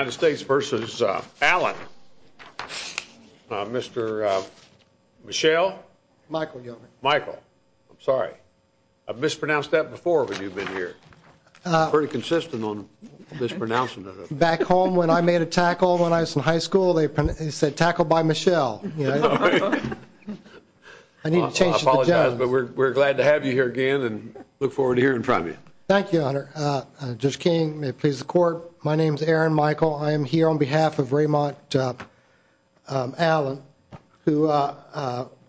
I'm sorry, I mispronounced that before when you've been here, I'm pretty consistent on mispronouncing it. Back home when I made a tackle when I was in high school, they said tackle by Michelle. I need to change it to Jones. We're glad to have you here again and look forward to hearing from you. Thank you, Honor. Judge King, may it please the court. My name is Aaron Michael. I am here on behalf of Raymond Allen, who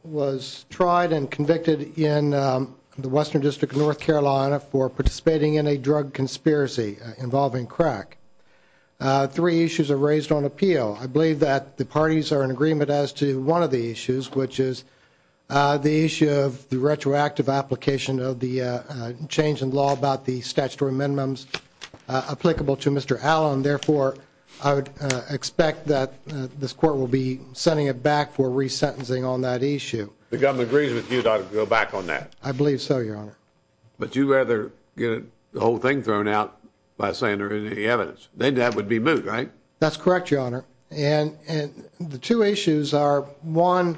was tried and convicted in the Western District of North Carolina for participating in a drug conspiracy involving crack. Three issues are raised on appeal. I believe that the parties are in agreement as to one of the issues, which is the issue of the retroactive application of the change in law about the statutory minimums applicable to Mr. Allen. Therefore, I would expect that this court will be sending it back for resentencing on that issue. The government agrees with you to go back on that. I believe so, Your Honor. But you rather get the whole thing thrown out by saying there isn't any evidence. Then that would be moot, right? That's correct, Your Honor. And the two issues are one,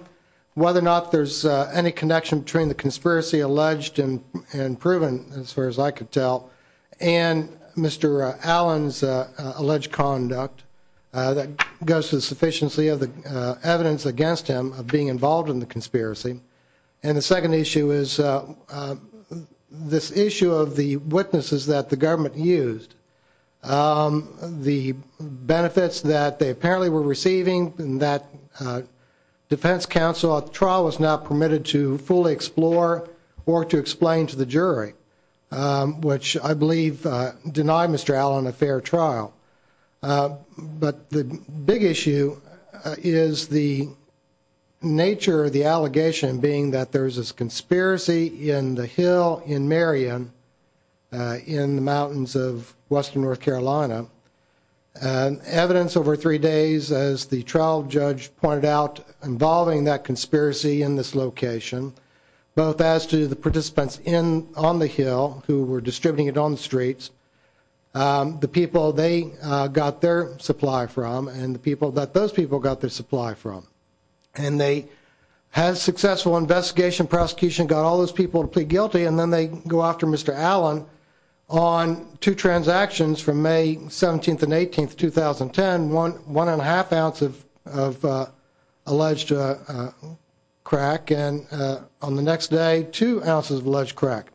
whether or not there's any connection between the conspiracy alleged and proven as far as I could tell and Mr. Allen's alleged conduct that goes to the sufficiency of the evidence against him of being involved in the conspiracy. And the second issue is this issue of the witnesses that the government used. The benefits that they apparently were receiving in that defense counsel trial was not permitted to fully explore or to explain to the jury, which I believe denied Mr. Allen a fair trial. But the big issue is the nature of the allegation being that there's this conspiracy in the hill in Marion in the mountains of Western North Carolina. Evidence over three days, as the trial judge pointed out, involving that conspiracy in this location, both as to the participants on the hill who were allegedly got their supply from and the people that those people got their supply from. And they had a successful investigation, prosecution, got all those people to plead guilty. And then they go after Mr. Allen on two transactions from May 17th and 18th, 2010, one and a half ounce of alleged crack. And on the next day, two ounces of alleged crack.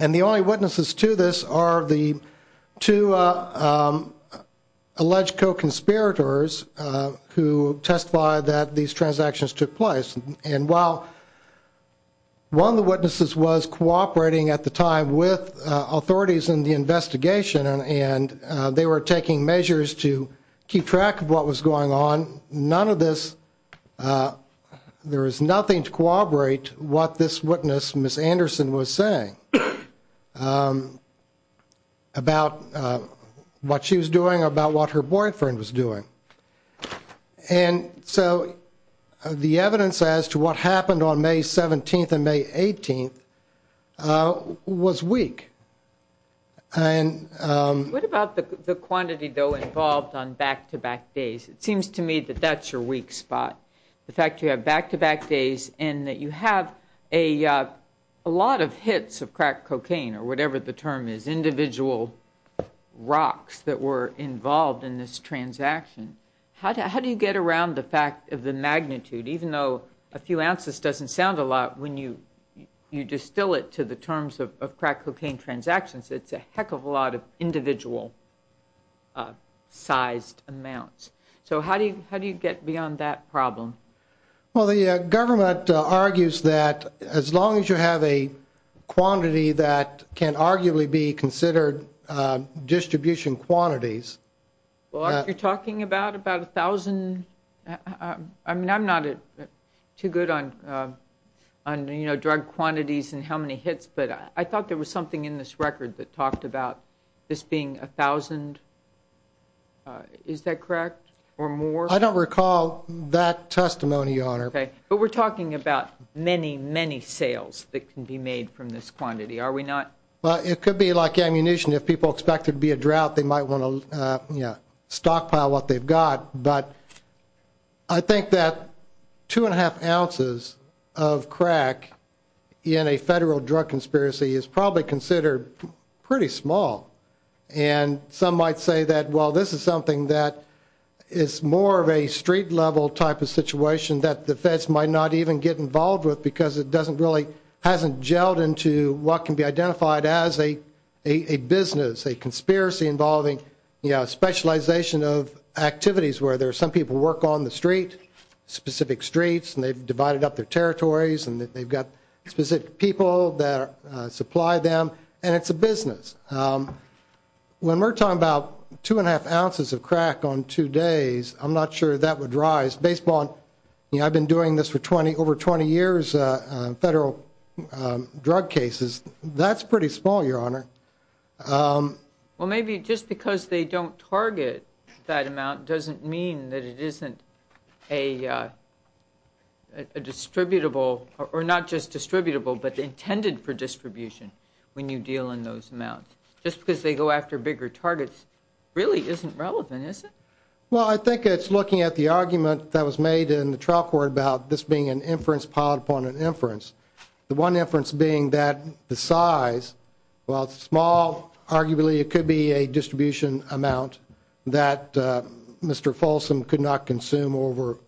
And the only witnesses to this are the two alleged co-conspirators who testified that these transactions took place. And while one of the witnesses was cooperating at the time with authorities in the investigation and they were taking measures to keep track of what was going on, none of this there is nothing to corroborate what this witness, Miss Anderson, was saying about what she was doing, about what her boyfriend was doing. And so the evidence as to what happened on May 17th and May 18th was weak. And what about the quantity, though, involved on back to back days? It seems to me that that's your weak spot, the fact you have back to back days and that you have a lot of hits of crack cocaine or whatever the term is, individual rocks that were involved in this transaction. How do you get around the fact of the magnitude, even though a few ounces doesn't sound a lot, when you distill it to the terms of crack cocaine transactions, it's a heck of a lot of individual sized amounts. So how do you how do you get beyond that problem? Well, the government argues that as long as you have a quantity that can arguably be considered distribution quantities. Well, you're talking about about a thousand. I mean, I'm not too good on on drug quantities and how many hits. But I thought there was something in this record that talked about this being a thousand. Is that correct or more? I don't recall that testimony on it, but we're talking about many, many sales that can be made from this quantity. Are we not? Well, it could be like ammunition. If people expected to be a drought, they might want to stockpile what they've got. But I think that two and a half ounces of crack in a federal drug conspiracy is probably considered pretty small. And some might say that, well, this is something that is more of a street level type of situation that the Feds might not even get involved with because it doesn't really hasn't gelled into what can be identified as a a business, a conspiracy involving specialization of activities where there are some people work on the street, specific streets, and they've divided up their territories and they've got specific people that supply them. And it's a business when we're talking about two and a half ounces of crack on two days. I'm not sure that would rise based on I've been doing this for 20 over 20 years. Federal drug cases, that's pretty small, your honor. Well, maybe just because they don't target that amount doesn't mean that it isn't a. A distributable or not just distributable, but intended for distribution when you deal in those amounts, just because they go after bigger targets really isn't relevant, is it? Well, I think it's looking at the argument that was made in the trial court about this being an inference piled upon an inference. The one inference being that the size while small, arguably it could be a distribution amount that Mr Folsom could not consume over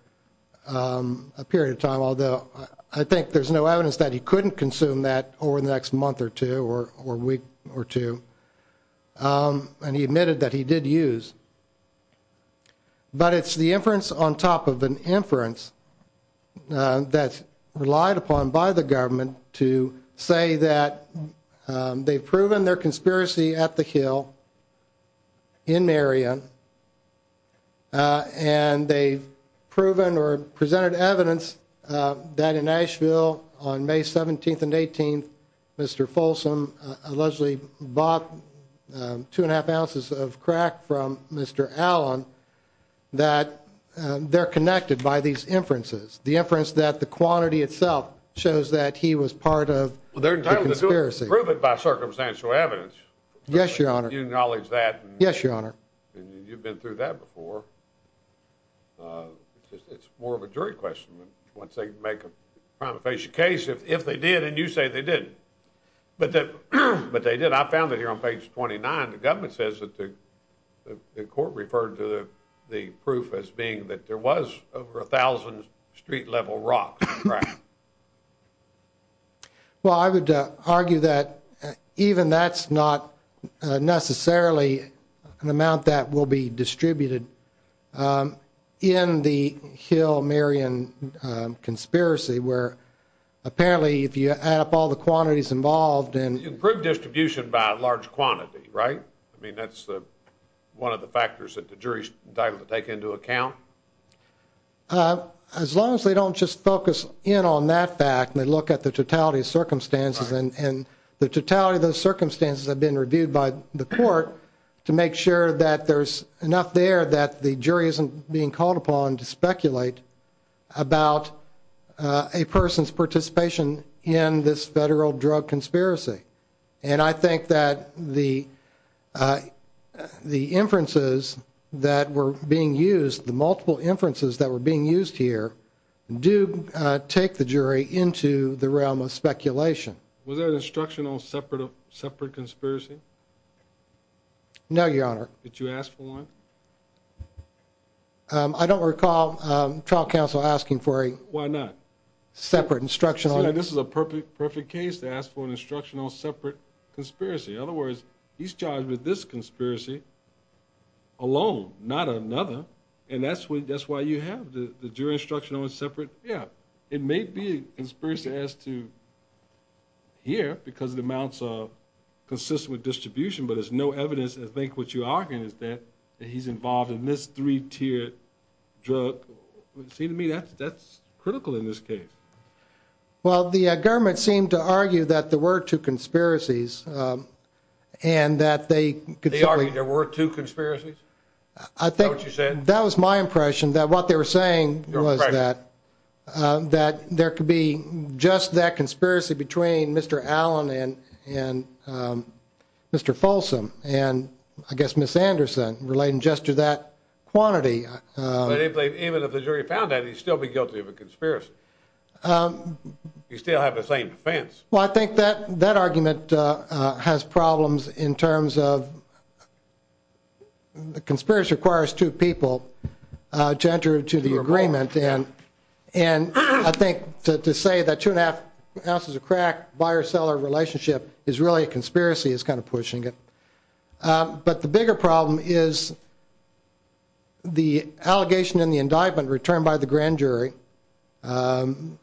a period of time. Although I think there's no evidence that he couldn't consume that over the next month or two or or week or two. And he admitted that he did use. But it's the inference on top of an inference. That's relied upon by the government to say that they've proven their conspiracy at the hill. In area. And they've proven or presented evidence that in Nashville on May 17th and 18th, Mr Folsom allegedly bought two and a half ounces of crack from Mr. Allen that they're connected by these inferences, the inference that the quantity itself shows that he was part of their time to prove it by circumstantial evidence. Yes, your honor. You acknowledge that? Yes, your honor. You've been through that before. It's more of a jury question. Once they make a case, if they did, and you say they did, but that but they did. I found it here on page twenty nine. The government says that the court referred to the proof as being that there was over a thousand street level rock. Well, I would argue that even that's not necessarily an amount that will be distributed in the hill. I mean, that's one of the factors that the jury is entitled to take into account as long as they don't just focus in on that fact. And they look at the totality of circumstances and the totality of those circumstances have been reviewed by the court to make sure that there's enough there that the jury isn't being called upon to speculate. About a person's participation in this federal drug conspiracy. And I think that the the inferences that were being used the multiple inferences that were being used here do take the jury into the realm of speculation. Was there an instructional separate of separate conspiracy? No, your honor. Did you ask for one? I don't recall trial counsel asking for a why not separate instructional. And this is a perfect, perfect case to ask for an instructional separate conspiracy. In other words, he's charged with this conspiracy alone, not another. And that's what that's why you have the jury instructional and separate. Yeah, it may be conspiracy as to here because the amounts of consistent with distribution. But there's no evidence. I think what you are in is that he's involved in this 3 tier drug. It seemed to me that that's critical in this case. Well, the government seemed to argue that there were 2 conspiracies and that they could there were 2 conspiracies. I think that was my impression that what they were saying was that that there could be just that conspiracy between Mr. Allen and and Mr. Folsom. And I guess Miss Anderson relating just to that quantity, even if the jury found that he's still be guilty of a conspiracy. You still have the same defense. Well, I think that that argument has problems in terms of. The conspiracy requires 2 people gender to the agreement. And and I think to say that 2 and a half ounces of crack buyer seller relationship is really a conspiracy is kind of pushing it. But the bigger problem is. The allegation in the indictment returned by the grand jury and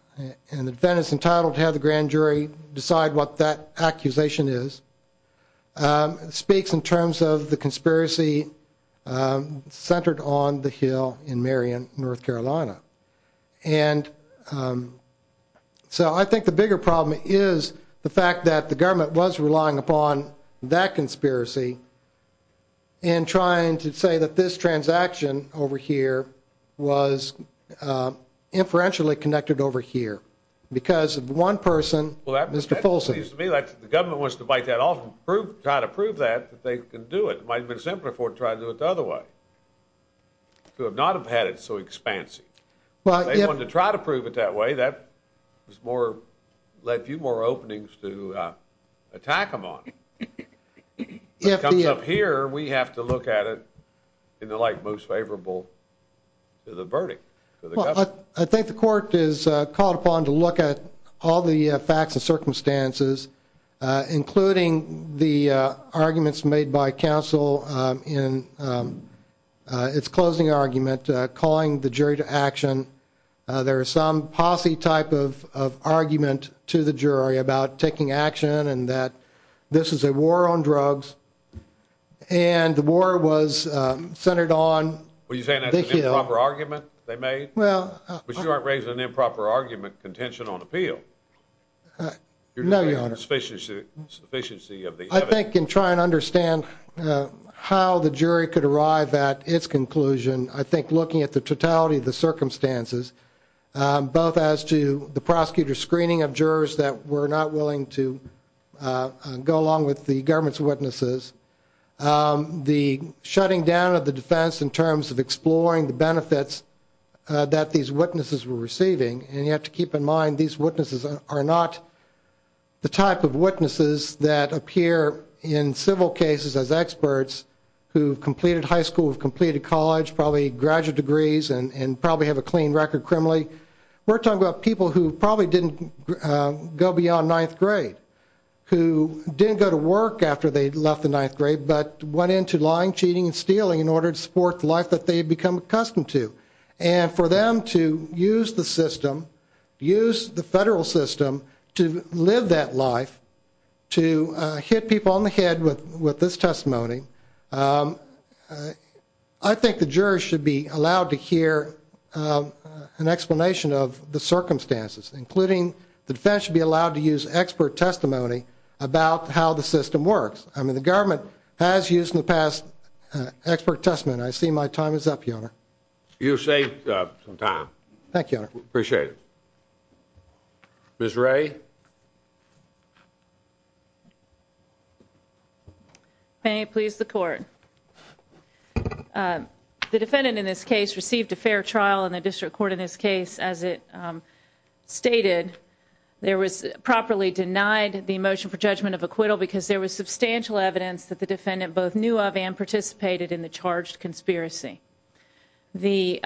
the defense entitled to have the grand jury decide what that accusation is. Speaks in terms of the conspiracy centered on the hill in Marion, North Carolina. And so I think the bigger problem is the fact that the government was relying upon that conspiracy. And trying to say that this transaction over here was inferentially connected over here because of 1 person. Well, that Mr. Folsom seems to be like the government wants to bite that off and prove try to prove that they can do it might be simpler for trying to do it the other way. Could not have had it so expansive, but they want to try to prove it that way. That was more let you more openings to attack him on. If he comes up here, we have to look at it in the like most favorable. To the verdict, I think the court is called upon to look at all the facts and circumstances, including the arguments made by counsel in. It's closing argument, calling the jury to action. There are some posse type of argument to the jury about taking action and that this is a war on drugs and the war was centered on. Well, you saying that the proper argument they made well, but you aren't raising an improper argument contention on appeal. No, your Honor. Spaceship efficiency of the I think and try and understand how the jury could arrive at its conclusion. I think looking at the totality of the circumstances, both as to the prosecutor screening of jurors that were not willing to go along with the government's witnesses. The shutting down of the defense in terms of exploring the benefits that these witnesses were receiving. And you have to keep in mind these witnesses are not the type of witnesses that appear in civil cases as experts who completed high school, completed college, probably graduate degrees and probably have a clean record. We're talking about people who probably didn't go beyond ninth grade, who didn't go to work after they left the ninth grade, but went into lying, cheating and stealing in order to support the life that they become accustomed to. And for them to use the system, use the federal system to live that life, to hit people on the head with this testimony. I think the jurors should be allowed to hear an explanation of the circumstances, including the defense should be allowed to use expert testimony about how the system works. I mean, the government has used in the past expert testament. I see my time is up. You know, you say some time. Thank you. Appreciate it. Miss Ray. May I please the court? The defendant in this case received a fair trial in the district court in this case. As it stated, there was properly denied the motion for judgment of acquittal because there was substantial evidence that the defendant both knew of and participated in the charged conspiracy. The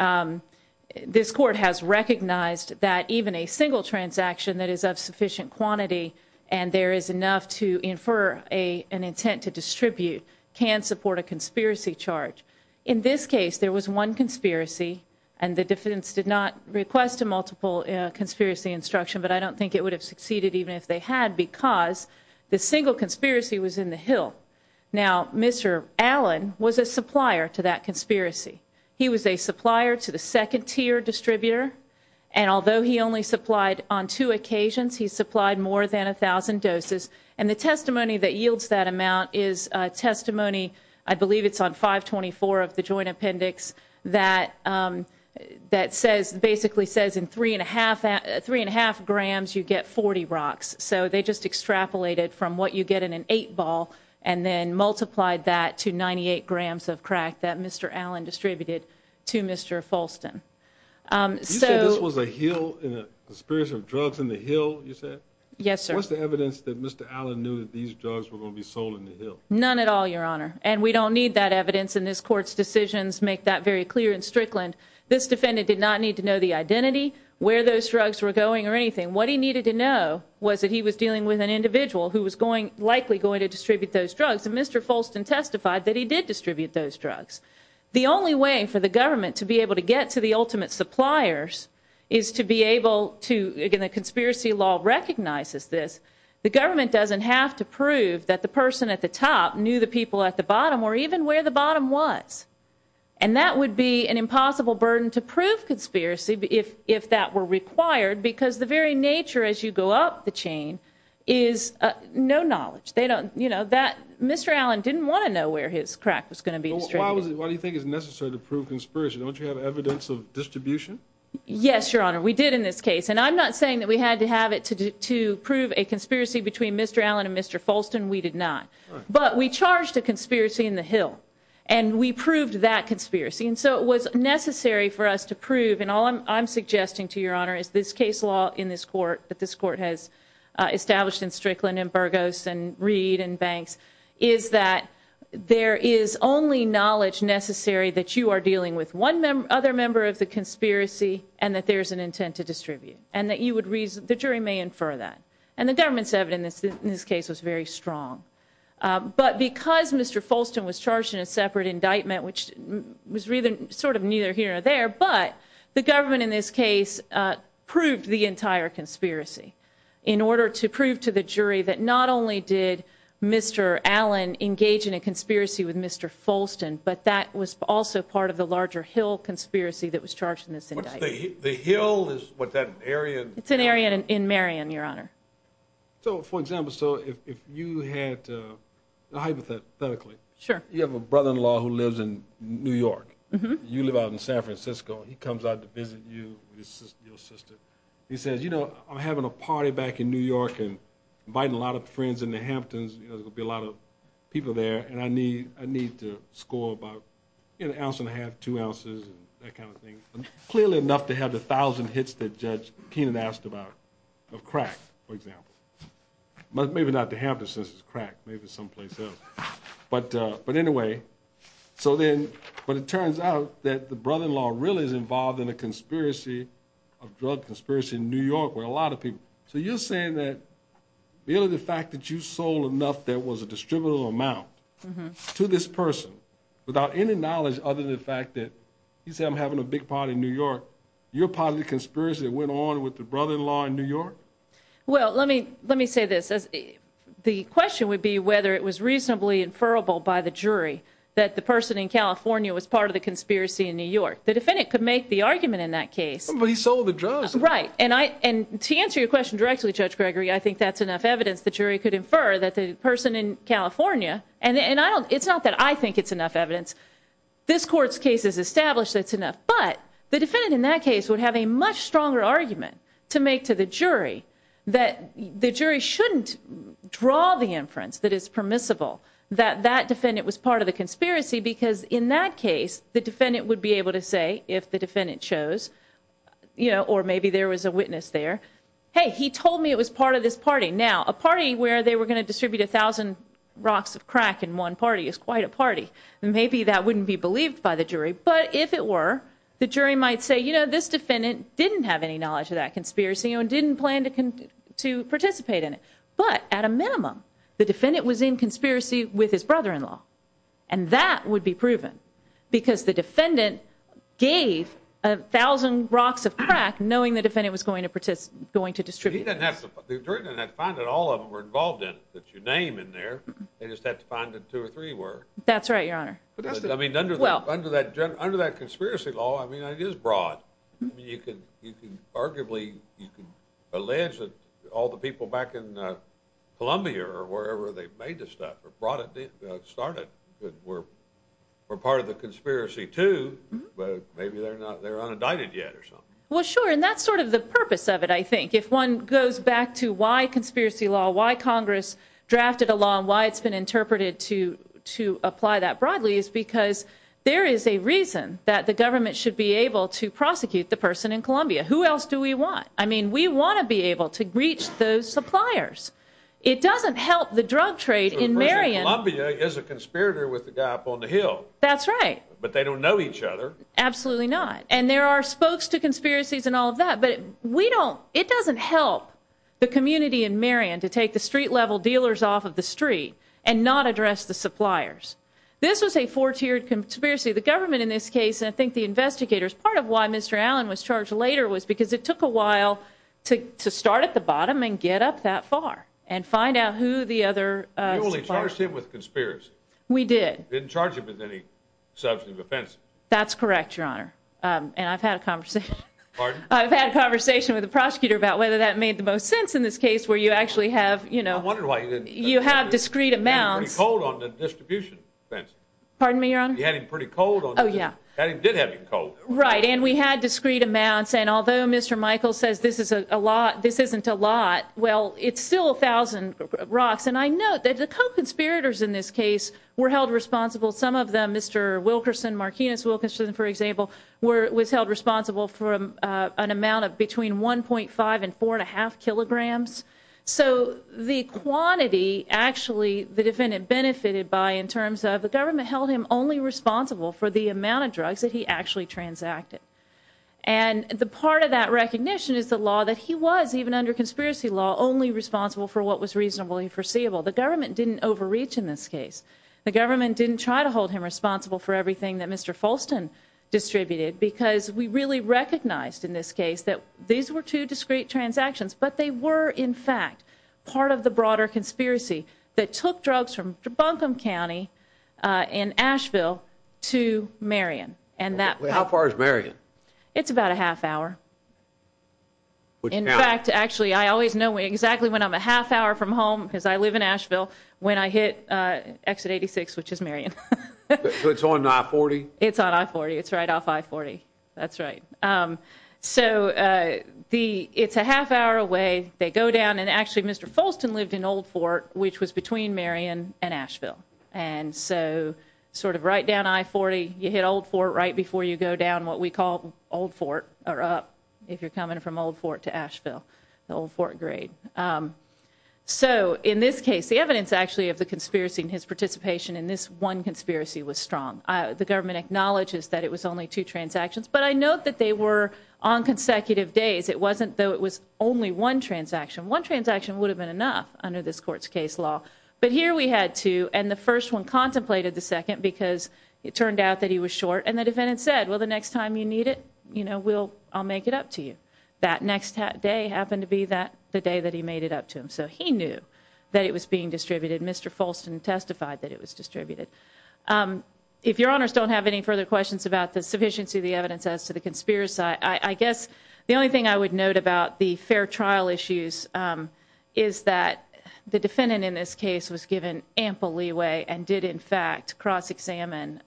this court has recognized that even a single transaction that is of sufficient quantity and there is enough to infer a an intent to distribute can support a conspiracy charge. In this case, there was one conspiracy and the defense did not request a multiple conspiracy instruction, but I don't think it would have succeeded even if they had because the single conspiracy was in the hill. Now, Mr. Allen was a supplier to that conspiracy. He was a supplier to the second tier distributor. And although he only supplied on two occasions, he supplied more than a thousand doses. And the testimony that yields that amount is testimony. I believe it's on 524 of the joint appendix that that says basically says in three and a half, three and a half grams, you get 40 rocks. So they just extrapolated from what you get in an eight ball and then multiplied that to 98 grams of crack that Mr. Allen distributed to Mr. Folston. So this was a hill in a spirit of drugs in the hill. You said, yes, sir. What's the evidence that Mr. Allen knew that these drugs were going to be sold in the hill? None at all, your honor. And we don't need that evidence in this court's decisions. Make that very clear in Strickland. This defendant did not need to know the identity where those drugs were going or anything. What he needed to know was that he was dealing with an individual who was going, likely going to distribute those drugs. And Mr. Folston testified that he did distribute those drugs. The only way for the government to be able to get to the ultimate suppliers is to be able to, again, the conspiracy law recognizes this. The government doesn't have to prove that the person at the top knew the people at the bottom or even where the bottom was. And that would be an impossible burden to prove conspiracy if that were required because the very nature as you go up the chain is no knowledge. They don't, you know, that Mr. Allen didn't want to know where his crack was going to be distributed. Why do you think it's necessary to prove conspiracy? Don't you have evidence of distribution? Yes, your honor. We did in this case. And I'm not saying that we had to have it to prove a conspiracy between Mr. Allen and Mr. Folston. We did not. But we charged a conspiracy in the hill. And we proved that conspiracy. And so it was necessary for us to prove. And all I'm suggesting to your honor is this case law in this court that this court has established in Strickland and Burgos and Reed and Banks is that there is only knowledge necessary that you are dealing with one other member of the conspiracy and that there's an intent to distribute. And that you would reason, the jury may infer that. And the government's evidence in this case was very strong. But because Mr. Folston was charged in a separate indictment, which was really sort of neither here or there, but the government in this case proved the entire conspiracy. In order to prove to the jury that not only did Mr. Allen engage in a conspiracy with Mr. Folston, but that was also part of the larger hill conspiracy that was charged in this indictment. The hill is what that area? It's an area in Marion, your honor. So for example, so if you had, hypothetically. Sure. You have a brother-in-law who lives in New York. You live out in San Francisco. He comes out to visit you with your sister. He says, you know, I'm having a party back in New York and inviting a lot of friends in the Hamptons. You know, there's gonna be a lot of people there. And I need to score about an ounce and a half, two ounces and that kind of thing. Clearly enough to have the thousand hits that Judge Keenan asked about of crack, for example. Maybe not the Hamptons since it's crack. Maybe someplace else. But anyway, so then, but it turns out that the brother-in-law really is involved in a conspiracy of drug conspiracy in New York, where a lot of people, so you're saying that really the fact that you sold enough, that was a distributable amount to this person without any knowledge other than the fact that he said, I'm having a big party in New York. You're part of the conspiracy that went on with the brother-in-law in New York. Well, let me say this. The question would be whether it was reasonably inferrable by the jury that the person in California was part of the conspiracy in New York. The defendant could make the argument in that case. But he sold the drugs. Right. And to answer your question directly, Judge Gregory, I think that's enough evidence. The jury could infer that the person in California, and it's not that I think it's enough evidence. This court's case is established. That's enough. But the defendant in that case would have a much stronger argument to make to the jury that the jury shouldn't draw the inference that is permissible. That that defendant was part of the conspiracy because in that case, the defendant would be able to say if the defendant chose, you know, or maybe there was a witness there. Hey, he told me it was part of this party. Now, a party where they were going to distribute a thousand rocks of crack in one party is quite a party. Maybe that wouldn't be believed by the jury. But if it were, the jury might say, you know, this defendant didn't have any knowledge of that conspiracy and didn't plan to participate in it. But at a minimum, the defendant was in conspiracy with his brother-in-law. And that would be proven because the defendant gave a thousand rocks of crack knowing the defendant was going to participate, going to distribute. He didn't have to find it. All of them were involved in it. That's your name in there. They just had to find it. Two or three were. That's right, Your Honor. I mean, under that under that under that conspiracy law, I mean, it is broad. You can you can arguably you can allege that all the people back in Columbia or wherever they made this stuff or brought it started. We're we're part of the conspiracy, too. But maybe they're not. They're unindicted yet or something. Well, sure. And that's sort of the purpose of it. I think if one goes back to why conspiracy law, why Congress drafted a law and why it's been interpreted to to apply that broadly is because there is a reason that the government should be able to prosecute the person in Columbia. Who else do we want? I mean, we want to be able to reach those suppliers. It doesn't help the drug trade in Marion. I'll be as a conspirator with the guy up on the hill. That's right. But they don't know each other. Absolutely not. And there are spokes to conspiracies and all of that. But we don't it doesn't help the community in Marion to take the street level dealers off of the street and not address the suppliers. This was a four tiered conspiracy. The government in this case, I think the investigators, part of why Mr. Allen was charged later was because it took a while to to start at the bottom and get up that far and find out who the other. Well, they charged him with conspiracy. We did. Didn't charge him with any substantive offense. That's correct, your honor. And I've had a conversation. Pardon? I've had a conversation with the prosecutor about whether that made the most sense in this case where you actually have, you know, you have discreet amounts. Hold on the distribution fence. Pardon me, your honor. You had him pretty cold. Oh, yeah. I did have you cold. Right. And we had discreet amounts. And although Mr. Michael says this is a lot, this isn't a lot. Well, it's still a thousand rocks. And I know that the conspirators in this case were held responsible. Some of them, Mr. Wilkerson, Martinez, Wilkerson, for example, was held responsible for an amount of between one point five and four and a half kilograms. So the quantity actually the defendant benefited by in terms of the government held him only responsible for the amount of drugs that he actually transacted. And the part of that recognition is the law that he was even under conspiracy law, only responsible for what was reasonably foreseeable. The government didn't overreach in this case. The government didn't try to hold him responsible for everything that Mr. Folsten distributed because we really recognized in this case that these were two discreet transactions. But they were, in fact, part of the broader conspiracy that took drugs from Buncombe County in Asheville to Marion. And that how far is Marion? It's about a half hour. In fact, actually, I always know exactly when I'm a half hour from home, because I live in Asheville, when I hit exit 86, which is Marion. So it's on I-40? It's on I-40. It's right off I-40. That's right. So the it's a half hour away. They go down. And actually, Mr. Folsten lived in Old Fort, which was between Marion and Asheville. And so sort of right down I-40, you hit Old Fort right before you go down what we call Old Fort or up. If you're coming from Old Fort to Asheville, the Old Fort grade. So in this case, the evidence actually of the conspiracy in his participation in this one conspiracy was strong. The government acknowledges that it was only two transactions. But I note that they were on consecutive days. It wasn't though it was only one transaction. One transaction would have been enough under this court's case law. But here we had two. And the first one contemplated the second because it turned out that he was short. And the defendant said, well, the next time you need it, you know, we'll I'll make it up to you. That next day happened to be that the day that he made it up to him. So he knew that it was being distributed. Mr. Folsten testified that it was distributed. If your honors don't have any further questions about the sufficiency of the evidence as to the conspiracy, I guess the only thing I would note about the fair trial issues is that the defendant in this case was given ample leeway and did, in fact, cross-examine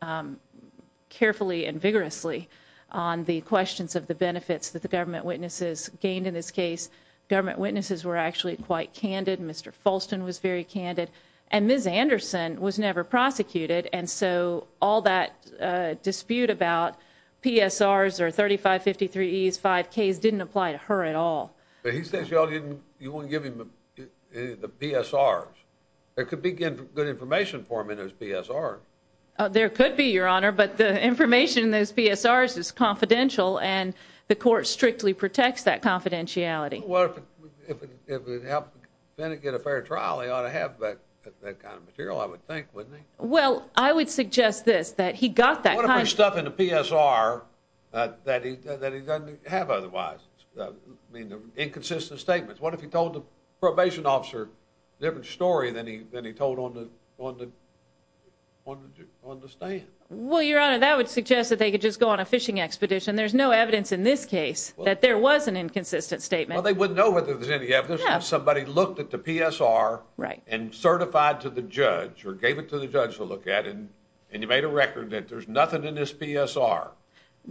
carefully and vigorously on the questions of the benefits that the government witnesses gained in this case. Government witnesses were actually quite candid. Mr. Folsten was very candid. And Ms. Anderson was never prosecuted. And so all that dispute about PSRs or thirty five fifty three E's five K's didn't apply to her at all. But he says, you know, you won't give him the PSRs. It could be good information for him in his PSR. There could be, your honor. But the information in those PSRs is confidential and the court strictly protects that confidentiality. Well, if it helped get a fair trial, he ought to have that kind of material, I would think, wouldn't he? Well, I would suggest this, that he got that kind of stuff in the PSR that he that he doesn't have otherwise. I mean, inconsistent statements. What if he told the probation officer a different story than he than he told on the on the on the stand? Well, your honor, that would suggest that they could just go on a fishing expedition. There's no evidence in this case that there was an inconsistent statement. Well, they wouldn't know whether there's any evidence that somebody looked at the PSR and certified to the judge or gave it to the judge to look at. And and you made a record that there's nothing in this PSR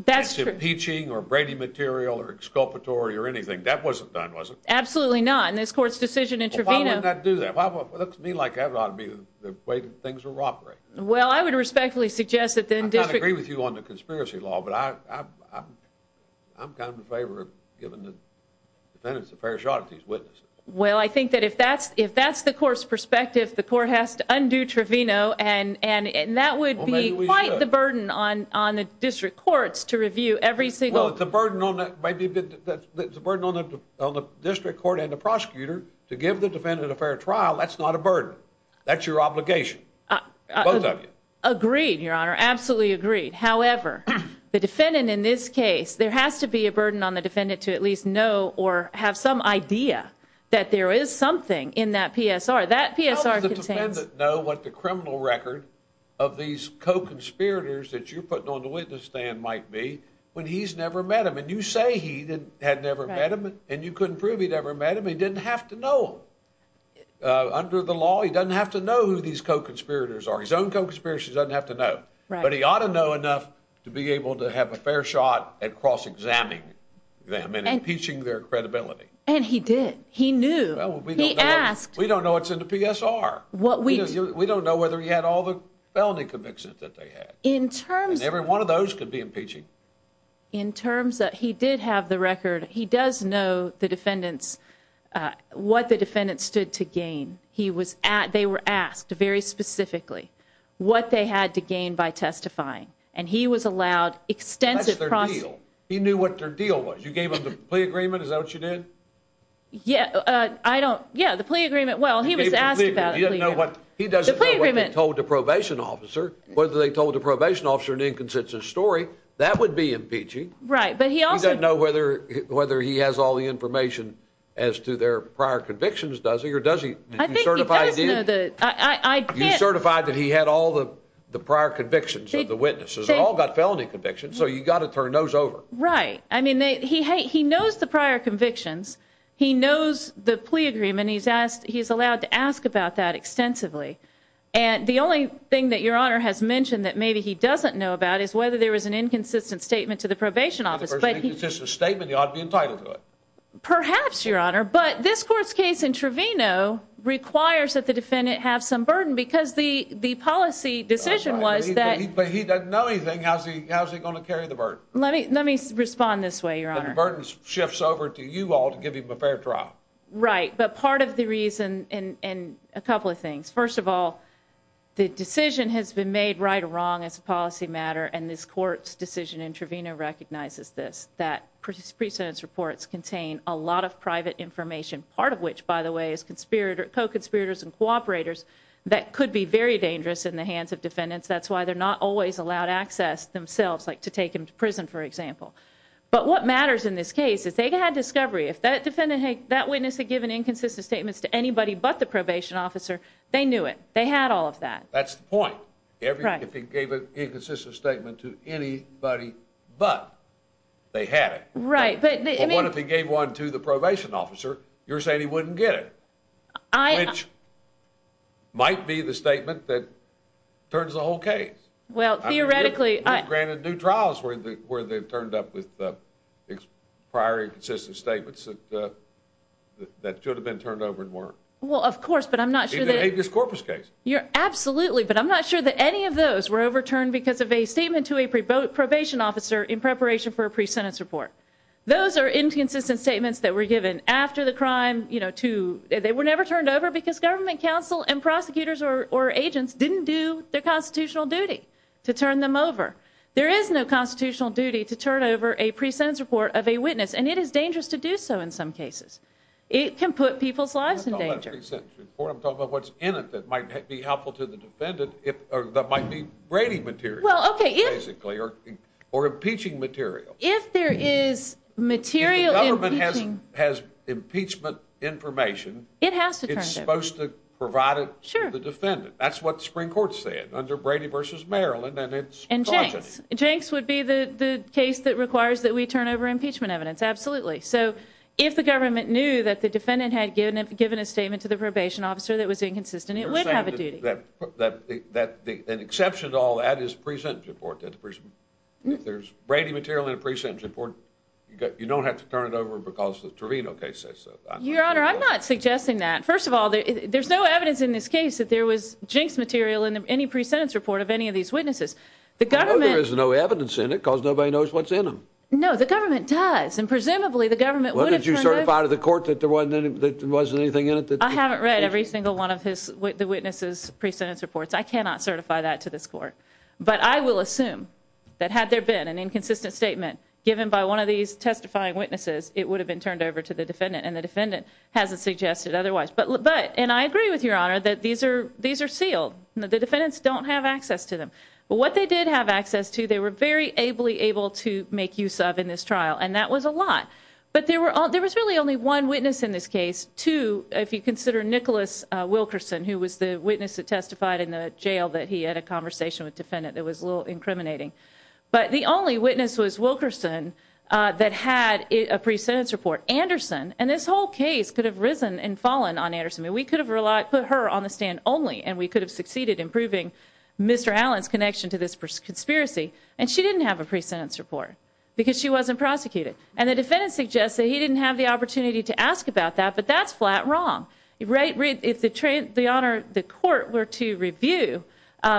that's impeaching or Brady material or exculpatory or anything that wasn't done, was it? Absolutely not. And this court's decision in Trevino. I do that. Well, it looks to me like I've got to be the way things are operating. Well, I would respectfully suggest that then disagree with you on the conspiracy law. But I I'm I'm kind of in favor of giving the defendants a fair shot at these witnesses. Well, I think that if that's if that's the court's perspective, the court has to undo Trevino. And and that would be quite the burden on on the district courts to review every single the burden on that. The burden on the district court and the prosecutor to give the defendant a fair trial. That's not a burden. That's your obligation. Agreed, your honor. Absolutely agreed. However, the defendant in this case, there has to be a burden on the defendant to at least know or have some idea that there is something in that PSR. That PSR says no. What the criminal record of these co-conspirators that you're putting on the witness stand might be when he's never met him. And you say he had never met him and you couldn't prove he'd ever met him. He didn't have to know under the law. He doesn't have to know who these co-conspirators are. His own co-conspirators doesn't have to know. But he ought to know enough to be able to have a fair shot at cross-examining them and impeaching their credibility. And he did. He knew. He asked. We don't know what's in the PSR. What we do, we don't know whether he had all the felony convictions that they had. In terms. Every one of those could be impeaching. In terms that he did have the record. He does know the defendants, what the defendants stood to gain. He was at, they were asked very specifically what they had to gain by testifying. And he was allowed extensive. He knew what their deal was. You gave him the plea agreement. Is that what you did? Yeah, I don't. Yeah, the plea agreement. Well, he was asked about it. You know what? He doesn't know what he told the probation officer, whether they told the probation officer an inconsistent story. That would be impeaching. Right. But he also doesn't know whether whether he has all the information as to their prior convictions. Does he? Or does he? I think he does know that I certified that he had all the prior convictions of the witnesses. They all got felony convictions. So you got to turn those over. Right? I mean, he knows the prior convictions. He knows the plea agreement. He's asked. He's allowed to ask about that extensively. And the only thing that your honor has mentioned that maybe he doesn't know about is whether there was an inconsistent statement to the probation office. But it's just a statement. You ought to be entitled to it. Perhaps your honor. But this court's case in Trevino requires that the defendant have some burden because the the policy decision was that he doesn't know anything. How's he? How's he going to carry the burden? Let me let me respond this way. Your honor burdens shifts over to you all to give him a fair trial. Right? But part of the reason in a couple of things. First of all, the decision has been made right or wrong as a policy matter. And this court's decision in Trevino recognizes this that precedence reports contain a lot of private information. Part of which, by the way, is conspirator co-conspirators and cooperators that could be very dangerous in the hands of defendants. That's why they're not always allowed access themselves, like to take him to prison, for example. But what matters in this case is they had discovery. If that defendant, hey, that witness had given inconsistent statements to anybody but the probation officer, they knew it. They had all of that. That's the point. If he gave an inconsistent statement to anybody, but they had it right. But what if he gave one to the probation officer? You're saying he wouldn't get it. I might be the statement that turns the whole case. Well, theoretically, I granted new trials where the where they've turned up with the prior consistent statements that that should have been turned over and weren't. Well, of course, but I'm not sure that this corpus case, you're absolutely. But I'm not sure that any of those were overturned because of a statement to a probation officer in preparation for a precedence report. Those are inconsistent statements that were given after the crime, you know, to they were never turned over because government counsel and prosecutors or agents didn't do their constitutional duty to turn them over. There is no constitutional duty to turn over a precedence report of a witness, and it is dangerous to do so. In some cases, it can put people's lives in danger. Or I'm talking about what's in it. That might be helpful to the defendant. If that might be rating material, basically, or or impeaching material. If there is material, the government has has impeachment information. It has to be supposed to provide it. Sure. The defendant. That's what the Supreme Court said under Brady versus Maryland. And it's and Jenks would be the case that requires that we turn over impeachment evidence. Absolutely. So if the government knew that the defendant had given up, given a statement to the probation officer that was inconsistent, it would have a duty that that the exception to all that is present. Report that the person if there's Brady material in a precinct report, you don't have to turn it over because the Torino case says so. Your honor, I'm not suggesting that. First of all, there's no evidence in this case that there was Jinks material in any pre sentence report of any of these witnesses. The government is no evidence in it because nobody knows what's in them. No, the government does. And presumably the government would have certified of the court that there wasn't anything in it. That I haven't read every single one of his witnesses. Precedence reports. I cannot certify that to this court. But I will assume that had there been an inconsistent statement given by one of these testifying witnesses, it would have been turned over to the defendant. And the defendant hasn't suggested otherwise. But but and I agree with your honor that these are these are sealed. The defendants don't have access to them. But what they did have access to, they were very ably able to make use of in this trial. And that was a lot. But there were there was really only one witness in this case to if you consider Nicholas Wilkerson, who was the witness that testified in the jail that he had a conversation with defendant. It was a little incriminating, but the only witness was Wilkerson that had a pre sentence report Anderson. And this whole case could have risen and fallen on Anderson. And we could have relied put her on the stand only. And we could have succeeded in proving Mr. Allen's connection to this conspiracy. And she didn't have a pre sentence report because she wasn't prosecuted. And the defendant suggests that he didn't have the opportunity to ask about that. But that's flat wrong, right? Read if the trade, the honor, the court were to review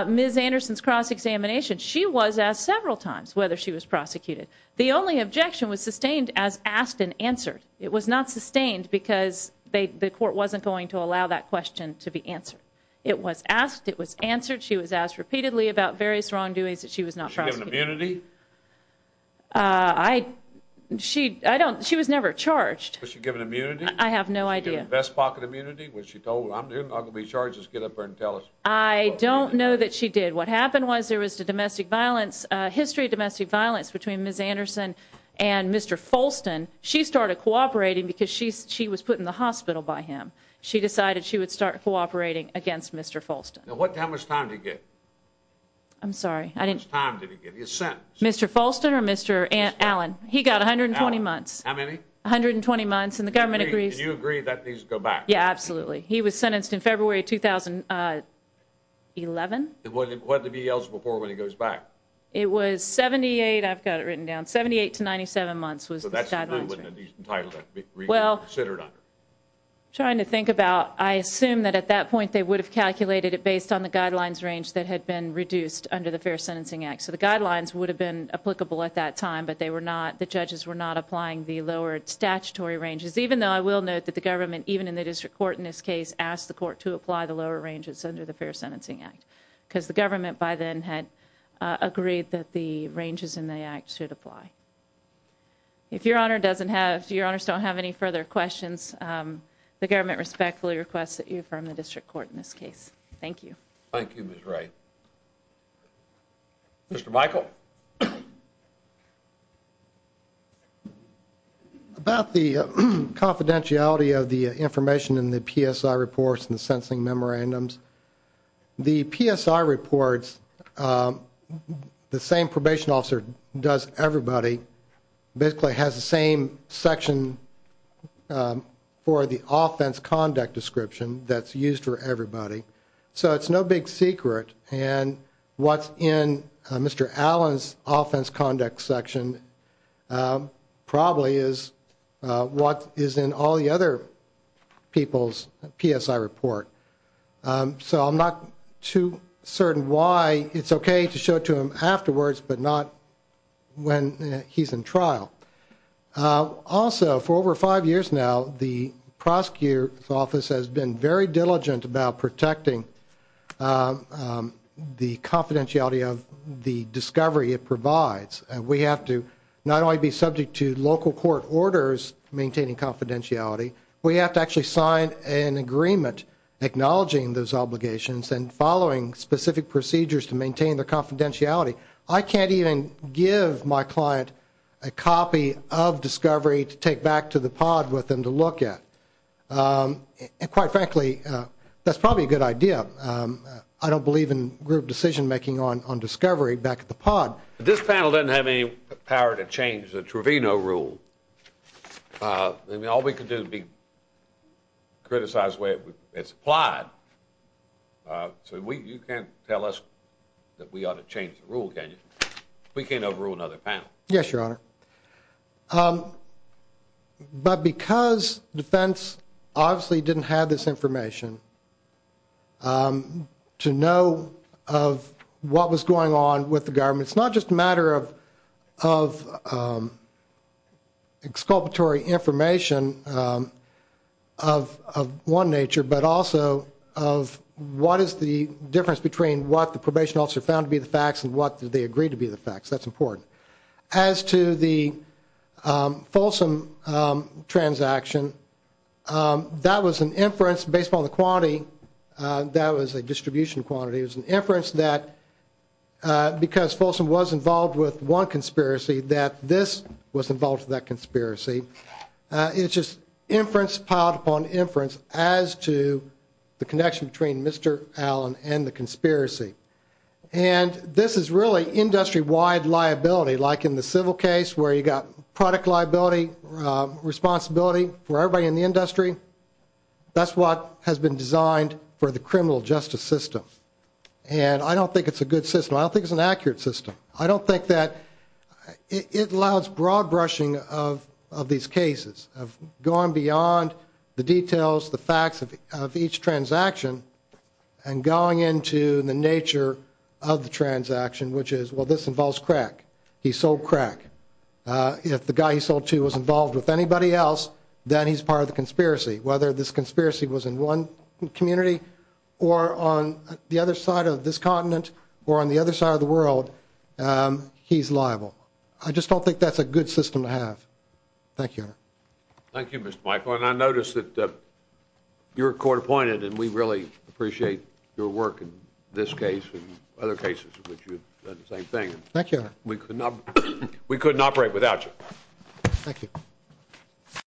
Ms. Anderson's cross examination. She was asked several times whether she was prosecuted. The only objection was sustained as asked and answered. It was not sustained because they the court wasn't going to allow that question to be answered. It was asked. It was answered. She was asked repeatedly about various wrongdoings that she was not. Immunity. I she I don't she was never charged. Was she given immunity? I have no idea. Best pocket immunity was she told I'm not gonna be charges. Get up there and tell us. I don't know that she did. What happened was there was the domestic violence history of domestic violence between Ms. Anderson and Mr. Folston. She started cooperating because she's she was put in the hospital by him. She decided she would start cooperating against Mr. Folston. What time was time to get? I'm sorry. I didn't time to give you a sentence. Mr. Folston or Mr. Ant Allen. He got a hundred and twenty months. How many hundred and twenty months in the government agrees you agree that these go back? Yeah, absolutely. He was sentenced in February 2011. It wasn't what to be else before when he goes back. It was 78. I've got it written down 78 to 97 months was that's a title that well considered under trying to think about. I assume that at that point they would have calculated it based on the guidelines range that had been reduced under the Fair Sentencing Act. So the guidelines would have been applicable at that time, but they were not the judges were not applying the lowered statutory ranges, even though I will note that the government even in the district court in this case asked the court to apply the lower ranges under the Fair Sentencing Act because the government by then had agreed that the ranges in the act should apply. If your honor doesn't have your honors don't have any further questions. The government respectfully requests that you from the district court in this case. Thank you. Thank you. Miss right. Mr. Michael. About the confidentiality of the information in the PSI reports and the sensing memorandums the PSI reports. The same probation officer does everybody basically has the same section for the offense conduct description. That's used for everybody. So it's no big secret and what's in Mr. Allen's offense conduct section probably is what is in all the other people's PSI report. So I'm not too certain why it's okay to show to him afterwards, but not when he's in trial also for over five years. Now the prosecutor's office has been very diligent about protecting the confidentiality of the discovery. It provides and we have to not only be subject to local court orders maintaining confidentiality. We have to actually sign an agreement acknowledging those obligations and following specific procedures to maintain their confidentiality. I can't even give my client a copy of discovery to take back to the pod with them to look at. And quite frankly, that's probably a good idea. I don't believe in group decision making on on discovery back at the pod. This panel doesn't have any power to change the Truvino rule. All we can do is be criticized the way it's applied. So you can't tell us that we ought to change the rule. Can you? We can't overrule another panel. Yes, your honor. But because defense obviously didn't have this information to know of what was going on with the government. It's not just a matter of exculpatory information of one nature, but also of what is the difference between what the probation officer found to be the facts and what they agreed to be the facts. That's important. As to the Folsom transaction, that was an inference based on the quantity that was a distribution quantity. It was an inference that because Folsom was involved with one conspiracy, that this was involved with that conspiracy. It's just inference piled upon inference as to the connection between Mr. Allen and the conspiracy. And this is really industry wide liability, like in the civil case where you got product liability responsibility for everybody in the industry. That's what has been designed for the criminal justice system. And I don't think it's a good system. I don't think it's an accurate system. I don't think that it allows broad brushing of these cases, of going beyond the details, the facts of each transaction, and going into the nature of the transaction, which is, well, this involves crack. He sold crack. then he's part of the conspiracy. Whether this conspiracy was in one community, or on the other side of this continent, or on the other side of the world, he's liable. I just don't think that's a good system to have. Thank you. Thank you, Mr. Michael. And I noticed that you're court appointed, and we really appreciate your work in this case, and other cases in which you've done the same thing. Thank you. We could not, we couldn't operate without you. Thank you.